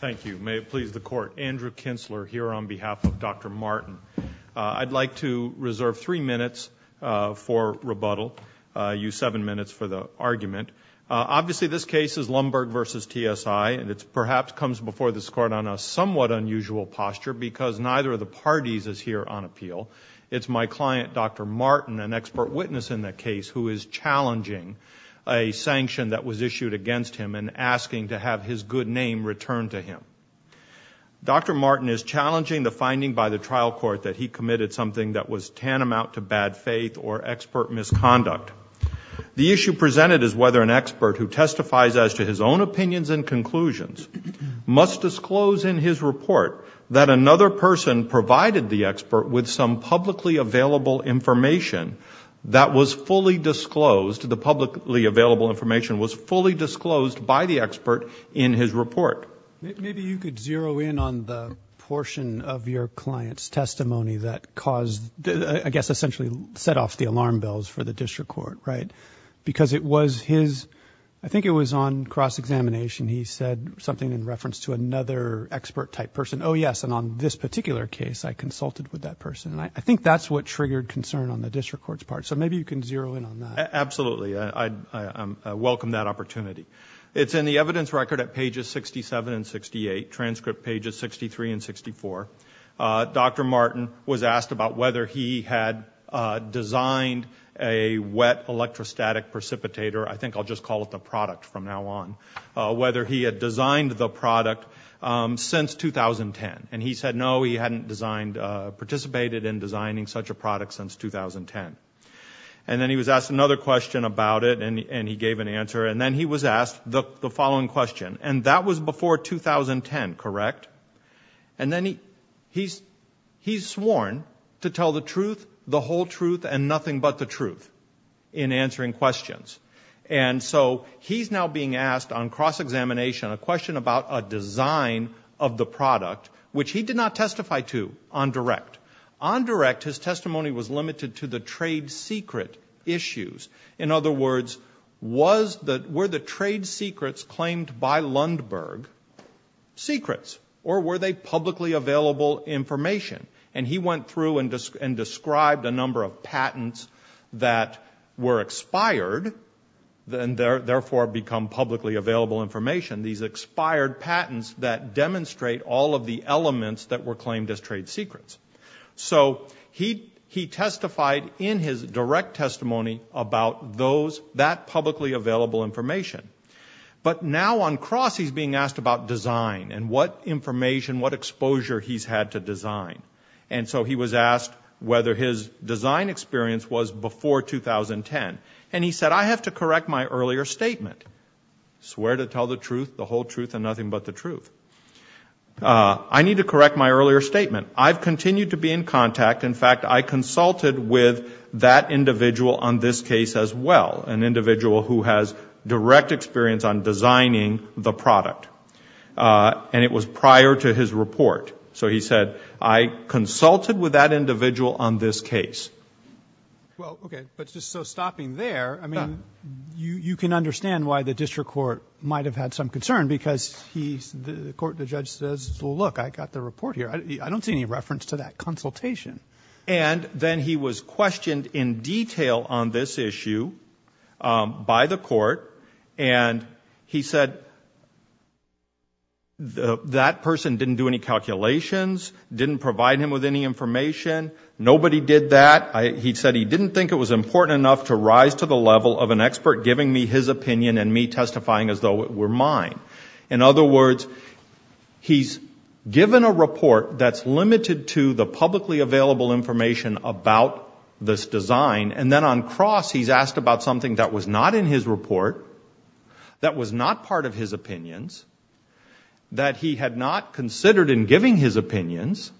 Thank you. May it please the Court, Andrew Kintzler here on behalf of Dr. Martin. I'd like to reserve three minutes for rebuttal. I'll use seven minutes for the argument. Obviously this case is Lundberg v. TSI, and it perhaps comes before this Court on a somewhat unusual posture because neither of the parties is here on appeal. It's my client, Dr. Martin, an expert witness in the case, who is challenging a sanction that was issued against him and asking to have his good name returned to him. Dr. Martin is challenging the finding by the trial court that he committed something that was tantamount to bad faith or expert misconduct. The issue presented is whether an expert who testifies as to his own opinions and conclusions must disclose in his report that another person provided the expert with some publicly available information that was fully disclosed, the publicly available information was fully disclosed by the expert in his report. Maybe you could zero in on the portion of your client's testimony that caused, I guess essentially set off the alarm bells for the district court, right? Because it was his, I think it was on cross-examination, he said something in reference to another expert type person. Oh yes, and on this particular case I consulted with that person. I think that's what triggered concern on the district court's part, so maybe you can zero in on that. Absolutely, I welcome that opportunity. It's in the evidence record at pages 67 and 68, transcript pages 63 and 64. Dr. Martin was asked about whether he had designed a wet electrostatic precipitator, I think I'll just call it the product from now on, whether he had designed the product since 2010. And he said no, he hadn't participated in designing such a product since 2010. And then he was asked another question about it, and he gave an answer. And then he was asked the following question, and that was before 2010, correct? And then he's sworn to tell the truth, the whole truth, and nothing but the truth in answering questions. And so he's now being asked on cross-examination a question about a design of the product, which he did not testify to on direct. On direct, his testimony was limited to the trade secret issues. In other words, were the trade secrets claimed by Lundberg secrets, or were they publicly available information? And he went through and described a number of patents that were expired, and therefore become publicly available information, these expired patents that demonstrate all of the elements that were claimed as trade secrets. So he testified in his direct testimony about that publicly available information. But now on cross, he's being asked about design and what information, what exposure he's had to design. And so he was asked whether his design experience was before 2010. And he said, I have to correct my earlier statement. Swear to tell the truth, the whole truth, and nothing but the truth. I need to correct my earlier statement. I've continued to be in contact. In fact, I consulted with that individual on this case as well, an individual who has direct experience on designing the product. And it was prior to his report. So he said, I consulted with that individual on this case. Well, okay, but just so stopping there, I mean, you can understand why the district court might have had some concern, because the judge says, well, look, I got the report here. I don't see any reference to that consultation. And then he was questioned in detail on this issue by the court, and he said that person didn't do any calculations, didn't provide him with any information. Nobody did that. He said he didn't think it was important enough to rise to the level of an expert giving me his opinion and me testifying as though it were mine. In other words, he's given a report that's limited to the publicly available information about this design, and then on cross he's asked about something that was not in his report, that was not part of his opinions, that he had not considered in giving his opinions,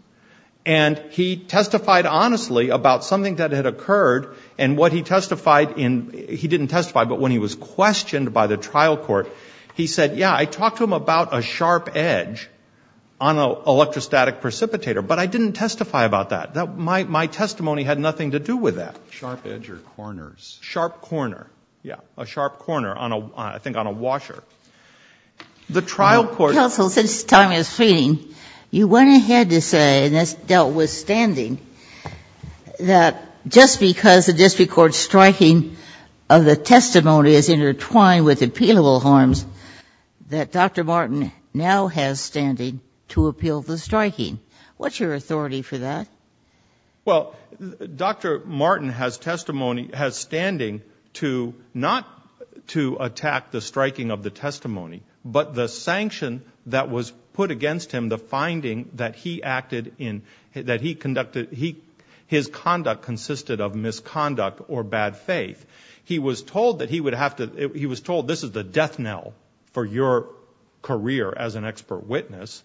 and he testified honestly about something that had occurred. And what he testified in he didn't testify, but when he was questioned by the trial court, he said, yeah, I talked to him about a sharp edge on an electrostatic precipitator, but I didn't testify about that. My testimony had nothing to do with that. Sharp edge or corners. Sharp corner, yeah, a sharp corner on a, I think, on a washer. The trial court. Counsel, since time is fleeting, you went ahead to say, and this dealt with standing, that just because the district court's striking of the testimony is intertwined with appealable harms, that Dr. Martin now has standing to appeal the striking. What's your authority for that? Well, Dr. Martin has testimony, has standing to not to attack the striking of the testimony, but the sanction that was put against him, the finding that he acted in, that he conducted, his conduct consisted of misconduct or bad faith. He was told that he would have to, he was told this is the death knell for your career as an expert witness,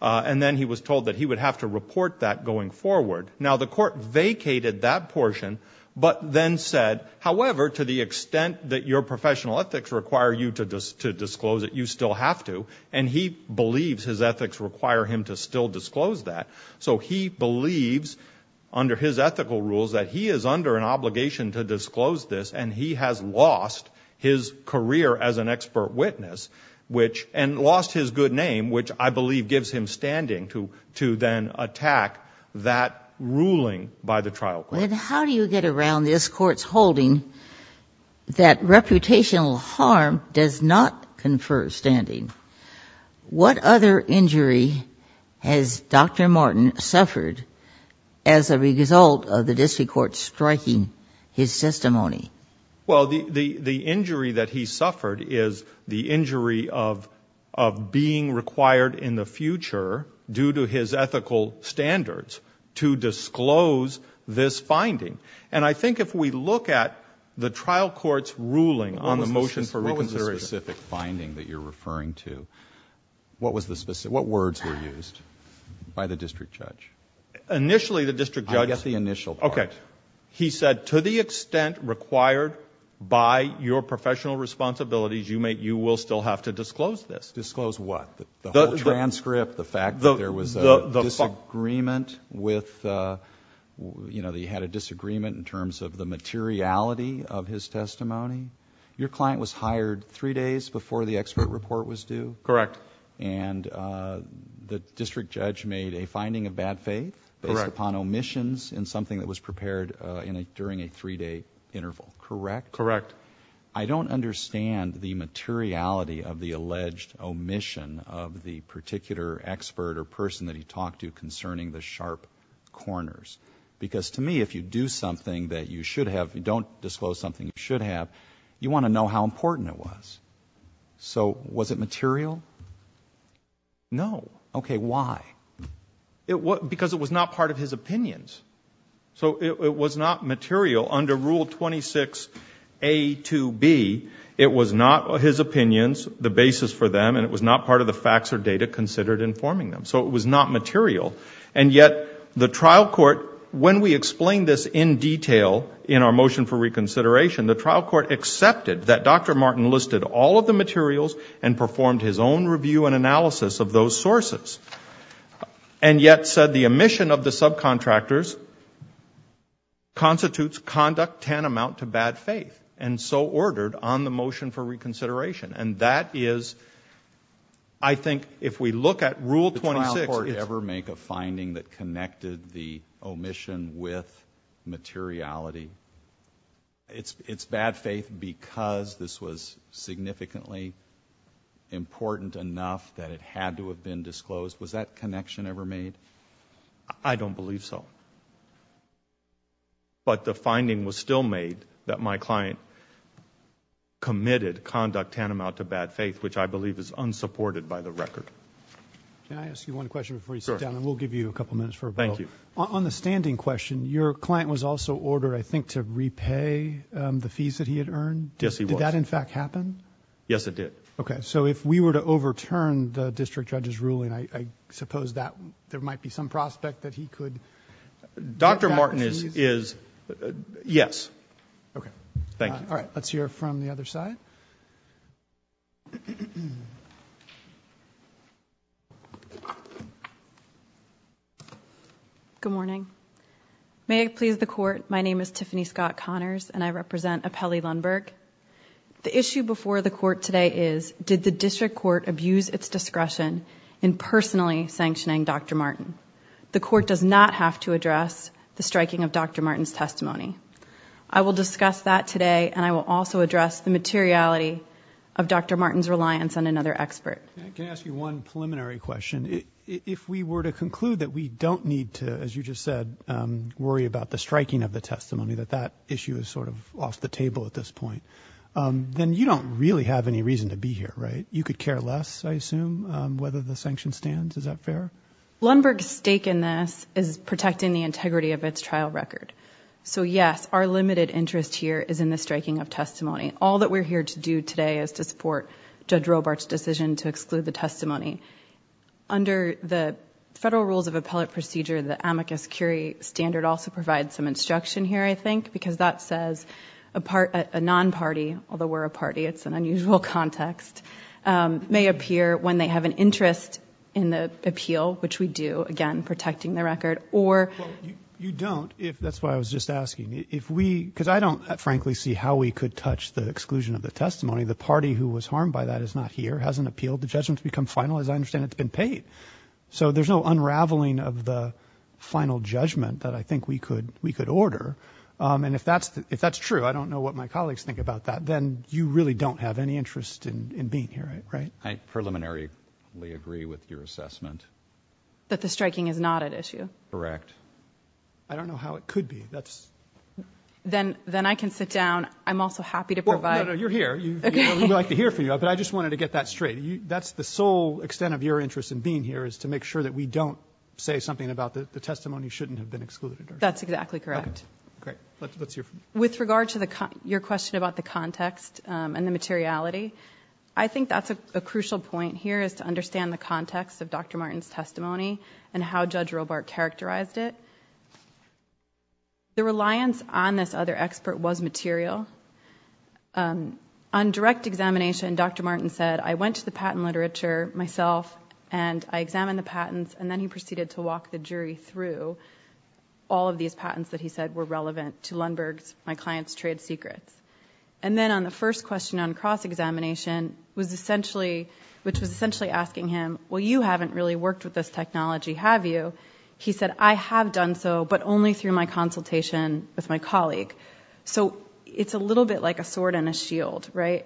and then he was told that he would have to report that going forward. Now, the court vacated that portion, but then said, however, to the extent that your professional ethics require you to disclose it, you still have to, and he believes his ethics require him to still disclose that. So he believes, under his ethical rules, that he is under an obligation to disclose this, and he has lost his career as an expert witness, and lost his good name, which I believe gives him standing to then attack that ruling by the trial court. Then how do you get around this court's holding that reputational harm does not confer standing? What other injury has Dr. Martin suffered as a result of the district court striking his testimony? Well, the injury that he suffered is the injury of being required in the future, due to his ethical standards, to disclose this finding. And I think if we look at the trial court's ruling on the motion for reconsideration. What was the specific finding that you're referring to? What words were used by the district judge? Initially, the district judge said to the extent required by your professional responsibilities, you will still have to disclose this. Disclose what? The transcript, the fact that there was a disagreement with, you know, that he had a disagreement in terms of the materiality of his testimony. Your client was hired three days before the expert report was due? Correct. And the district judge made a finding of bad faith based upon omissions in something that was prepared during a three-day interval, correct? Correct. I don't understand the materiality of the alleged omission of the particular expert or person that he talked to concerning the sharp corners. Because to me, if you do something that you should have, you don't disclose something you should have, you want to know how important it was. So was it material? No. Okay, why? Because it was not part of his opinions. So it was not material under Rule 26A to B. It was not his opinions, the basis for them, and it was not part of the facts or data considered in forming them. So it was not material, and yet the trial court, when we explained this in detail in our motion for reconsideration, the trial court accepted that Dr. Martin listed all of the materials and performed his own review and analysis of those sources, and yet said the omission of the subcontractors constitutes conduct tantamount to bad faith, and so ordered on the motion for reconsideration. And that is, I think, if we look at Rule 26. Did the trial court ever make a finding that connected the omission with materiality? It's bad faith because this was significantly important enough that it had to have been disclosed. Was that connection ever made? I don't believe so. But the finding was still made that my client committed conduct tantamount to bad faith, which I believe is unsupported by the record. Can I ask you one question before you sit down? Sure. And we'll give you a couple minutes for a vote. Thank you. On the standing question, your client was also ordered, I think, to repay the fees that he had earned? Yes, he was. Did that in fact happen? Yes, it did. Okay. So if we were to overturn the district judge's ruling, I suppose there might be some prospect that he could get back his fees? Dr. Martin is yes. Okay. Thank you. All right. Let's hear from the other side. Good morning. May it please the Court, my name is Tiffany Scott Connors, and I represent Apelli Lundberg. The issue before the Court today is, did the district court abuse its discretion in personally sanctioning Dr. Martin? The Court does not have to address the striking of Dr. Martin's testimony. I will discuss that today, and I will also address the materiality of Dr. Martin's reliance on another expert. Can I ask you one preliminary question? If we were to conclude that we don't need to, as you just said, worry about the striking of the testimony, that that issue is sort of off the table at this point, then you don't really have any reason to be here, right? You could care less, I assume, whether the sanction stands. Is that fair? Lundberg's stake in this is protecting the integrity of its trial record. So yes, our limited interest here is in the striking of testimony. All that we're here to do today is to support Judge Robart's decision to exclude the testimony. Under the Federal Rules of Appellate Procedure, the amicus curiae standard also provides some instruction here, I think, because that says a non-party, although we're a party, it's an unusual context, may appear when they have an interest in the appeal, which we do, again, protecting the record. Well, you don't. That's why I was just asking. Because I don't, frankly, see how we could touch the exclusion of the testimony. The party who was harmed by that is not here, hasn't appealed. The judgment's become final. As I understand it, it's been paid. So there's no unraveling of the final judgment that I think we could order. And if that's true, I don't know what my colleagues think about that, then you really don't have any interest in being here, right? I preliminarily agree with your assessment. That the striking is not at issue? Correct. I don't know how it could be. Then I can sit down. I'm also happy to provide. No, no, you're here. We'd like to hear from you. But I just wanted to get that straight. That's the sole extent of your interest in being here, is to make sure that we don't say something about the testimony shouldn't have been excluded. That's exactly correct. Okay, great. Let's hear from you. With regard to your question about the context and the materiality, I think that's a crucial point here, is to understand the context of Dr. Martin's testimony and how Judge Robart characterized it. The reliance on this other expert was material. On direct examination, Dr. Martin said, I went to the patent literature myself and I examined the patents, and then he proceeded to walk the jury through all of these patents that he said were relevant to Lundberg's, my client's, trade secrets. And then on the first question on cross-examination, which was essentially asking him, well, you haven't really worked with this technology, have you? He said, I have done so, but only through my consultation with my colleague. So it's a little bit like a sword and a shield. When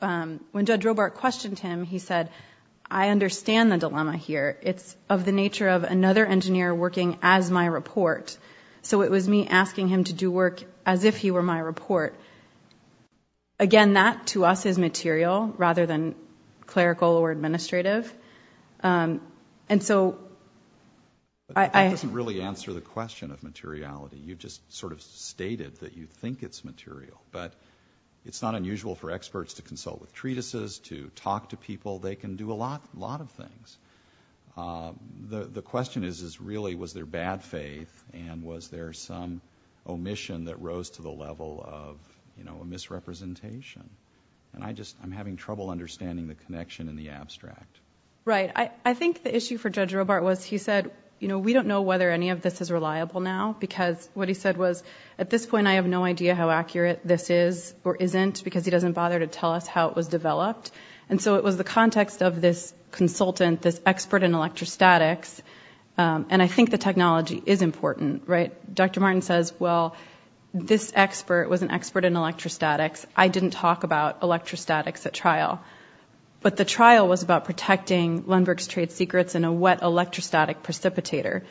Judge Robart questioned him, he said, I understand the dilemma here. It's of the nature of another engineer working as my report. So it was me asking him to do work as if he were my report. Again, that to us is material rather than clerical or administrative. That doesn't really answer the question of materiality. You just sort of stated that you think it's material, but it's not unusual for experts to consult with treatises, to talk to people. They can do a lot of things. The question is, really, was there bad faith and was there some omission that rose to the level of a misrepresentation? I'm having trouble understanding the connection in the abstract. Right. I think the issue for Judge Robart was he said, we don't know whether any of this is reliable now because what he said was, at this point, I have no idea how accurate this is or isn't because he doesn't bother to tell us how it was developed. And so it was the context of this consultant, this expert in electrostatics, and I think the technology is important. Dr. Martin says, well, this expert was an expert in electrostatics. I didn't talk about electrostatics at trial. But the trial was about protecting Lundberg's trade secrets in a wet electrostatic precipitator.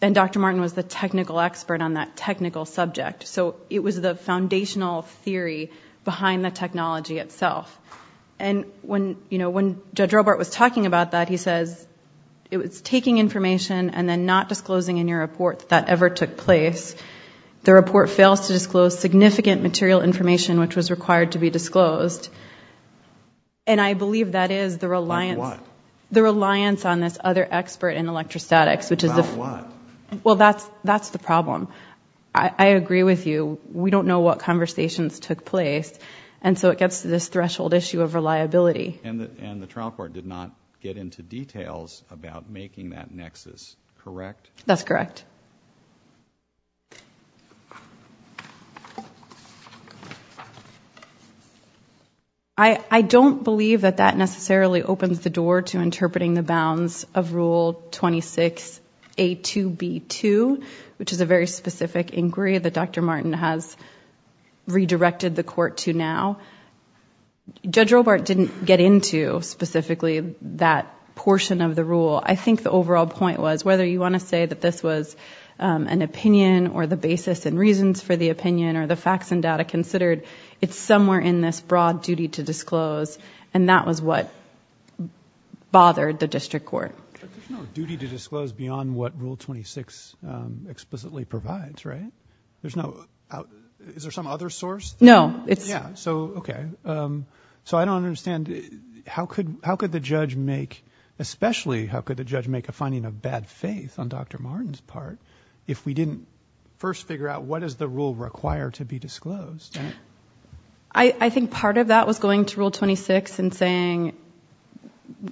And Dr. Martin was the technical expert on that technical subject. So it was the foundational theory behind the technology itself. And when Judge Robart was talking about that, he says, it was taking information and then not disclosing in your report that that ever took place. The report fails to disclose significant material information which was required to be disclosed. And I believe that is the reliance on this other expert in electrostatics, which is the... About what? Well, that's the problem. I agree with you. We don't know what conversations took place. And so it gets to this threshold issue of reliability. And the trial court did not get into details about making that nexus, correct? That's correct. I don't believe that that necessarily opens the door to interpreting the bounds of Rule 26A2B2, which is a very specific inquiry that Dr. Martin has redirected the court to now. Judge Robart didn't get into specifically that portion of the rule. I think the overall point was, whether you want to say that this was an opinion or the basis and reasons for the opinion or the facts and data considered, it's somewhere in this broad duty to disclose. And that was what bothered the district court. But there's no duty to disclose beyond what Rule 26 explicitly provides, right? There's no... Is there some other source? No. Yeah. So, okay. So I don't understand. How could the judge make, especially how could the judge make a finding of bad faith on Dr. Martin's part if we didn't first figure out what does the rule require to be disclosed? I think part of that was going to Rule 26 and saying,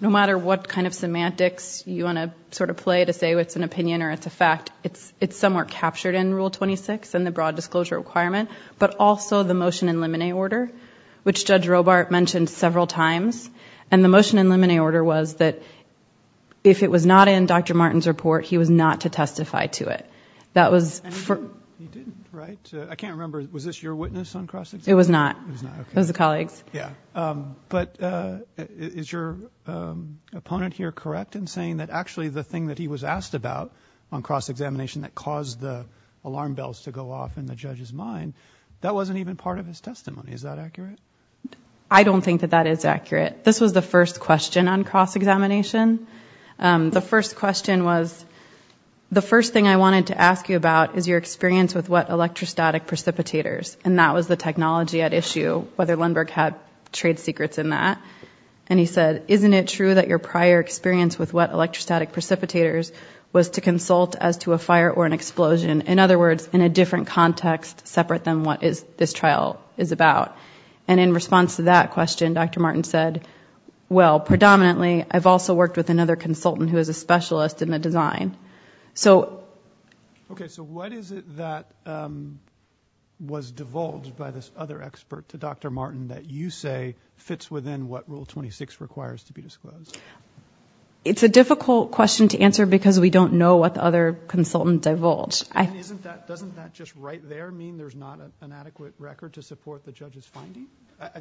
no matter what kind of semantics you want to sort of play to say it's an opinion or it's a fact, it's somewhere captured in Rule 26 and the broad disclosure requirement, but also the motion in limine order, which Judge Robart mentioned several times. And the motion in limine order was that if it was not in Dr. Martin's report, he was not to testify to it. He didn't, right? I can't remember. Was this your witness on cross-examination? It was not. It was not, okay. It was the colleague's. Yeah. But is your opponent here correct in saying that actually the thing that he was asked about on cross-examination that caused the alarm bells to go off in the judge's mind, that wasn't even part of his testimony. Is that accurate? I don't think that that is accurate. This was the first question on cross-examination. The first question was, the first thing I wanted to ask you about is your experience with wet electrostatic precipitators, and that was the technology at issue, whether Lindbergh had trade secrets in that. And he said, isn't it true that your prior experience with wet electrostatic precipitators was to consult as to a fire or an explosion? In other words, in a different context separate than what this trial is about. And in response to that question, Dr. Martin said, well, predominantly I've also worked with another consultant who is a specialist in the design. So... Okay. So what is it that was divulged by this other expert to Dr. Martin that you say fits within what Rule 26 requires to be disclosed? It's a difficult question to answer because we don't know what the other consultant divulged. Doesn't that just right there mean there's not an adequate record to support the judge's finding?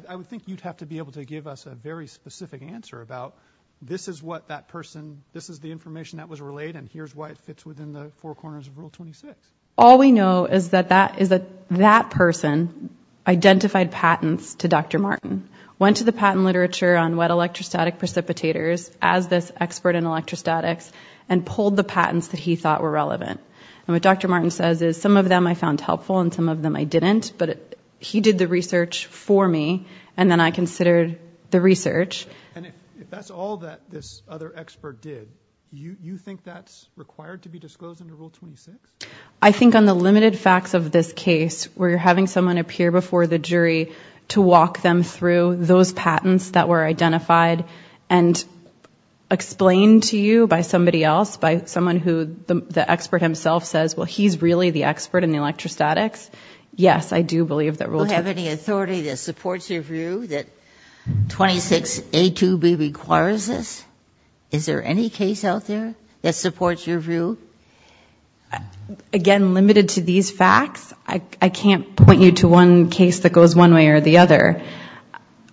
I would think you'd have to be able to give us a very specific answer about, this is what that person, this is the information that was relayed, and here's why it fits within the four corners of Rule 26. All we know is that that person identified patents to Dr. Martin, went to the patent literature on wet electrostatic precipitators as this expert in electrostatics, and pulled the patents that he thought were relevant. And what Dr. Martin says is, some of them I found helpful and some of them I didn't, but he did the research for me, and then I considered the research. And if that's all that this other expert did, you think that's required to be disclosed under Rule 26? I think on the limited facts of this case, where you're having someone appear before the jury to walk them through those patents that were identified and explained to you by somebody else, by someone who the expert himself says, well, he's really the expert in electrostatics, yes, I do believe that Rule 26. Do you have any authority that supports your view that 26A2B requires this? Is there any case out there that supports your view? Again, limited to these facts, I can't point you to one case that goes one way or the other.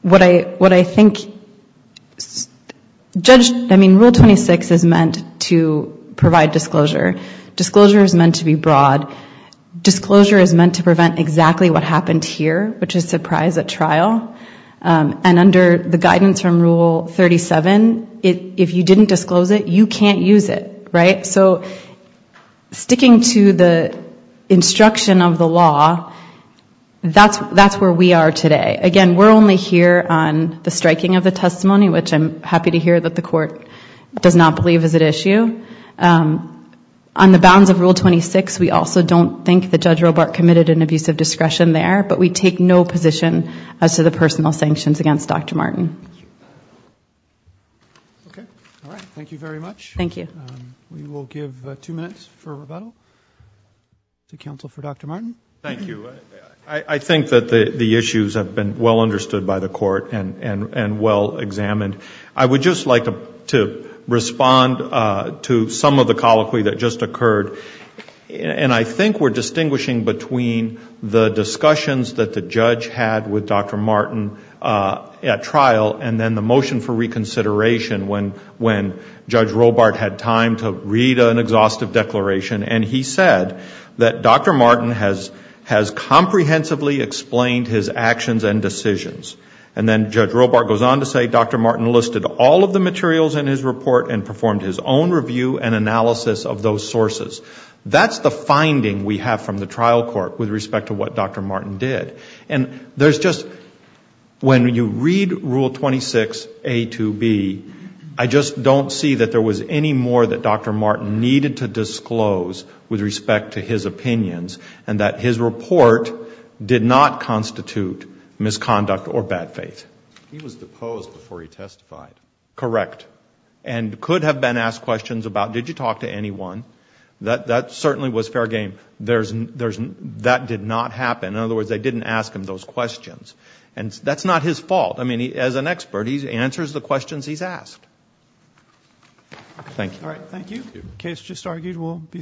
What I think, I mean, Rule 26 is meant to provide disclosure. Disclosure is meant to be broad. Disclosure is meant to prevent exactly what happened here, which is surprise at trial. And under the guidance from Rule 37, if you didn't disclose it, you can't use it, right? So sticking to the instruction of the law, that's where we are today. Again, we're only here on the striking of the testimony, which I'm happy to hear that the court does not believe is at issue. On the bounds of Rule 26, we also don't think that Judge Robart committed an abusive discretion there, but we take no position as to the personal sanctions against Dr. Martin. All right. Thank you very much. Thank you. We will give two minutes for rebuttal to counsel for Dr. Martin. Thank you. I think that the issues have been well understood by the court and well examined. I would just like to respond to some of the colloquy that just occurred, and I think we're distinguishing between the discussions that the judge had with Dr. Martin at trial and then the motion for reconsideration when Judge Robart had time to read an exhaustive declaration, and he said that Dr. Martin has comprehensively explained his actions and decisions. And then Judge Robart goes on to say Dr. Martin listed all of the materials in his report and performed his own review and analysis of those sources. That's the finding we have from the trial court with respect to what Dr. Martin did. And there's just, when you read Rule 26a to b, I just don't see that there was any more that Dr. Martin needed to disclose with respect to his opinions and that his report did not constitute misconduct or bad faith. He was deposed before he testified. Correct. And could have been asked questions about did you talk to anyone. That certainly was fair game. That did not happen. In other words, they didn't ask him those questions. And that's not his fault. I mean, as an expert, he answers the questions he's asked. Thank you. All right, thank you. Case just argued will be submitted.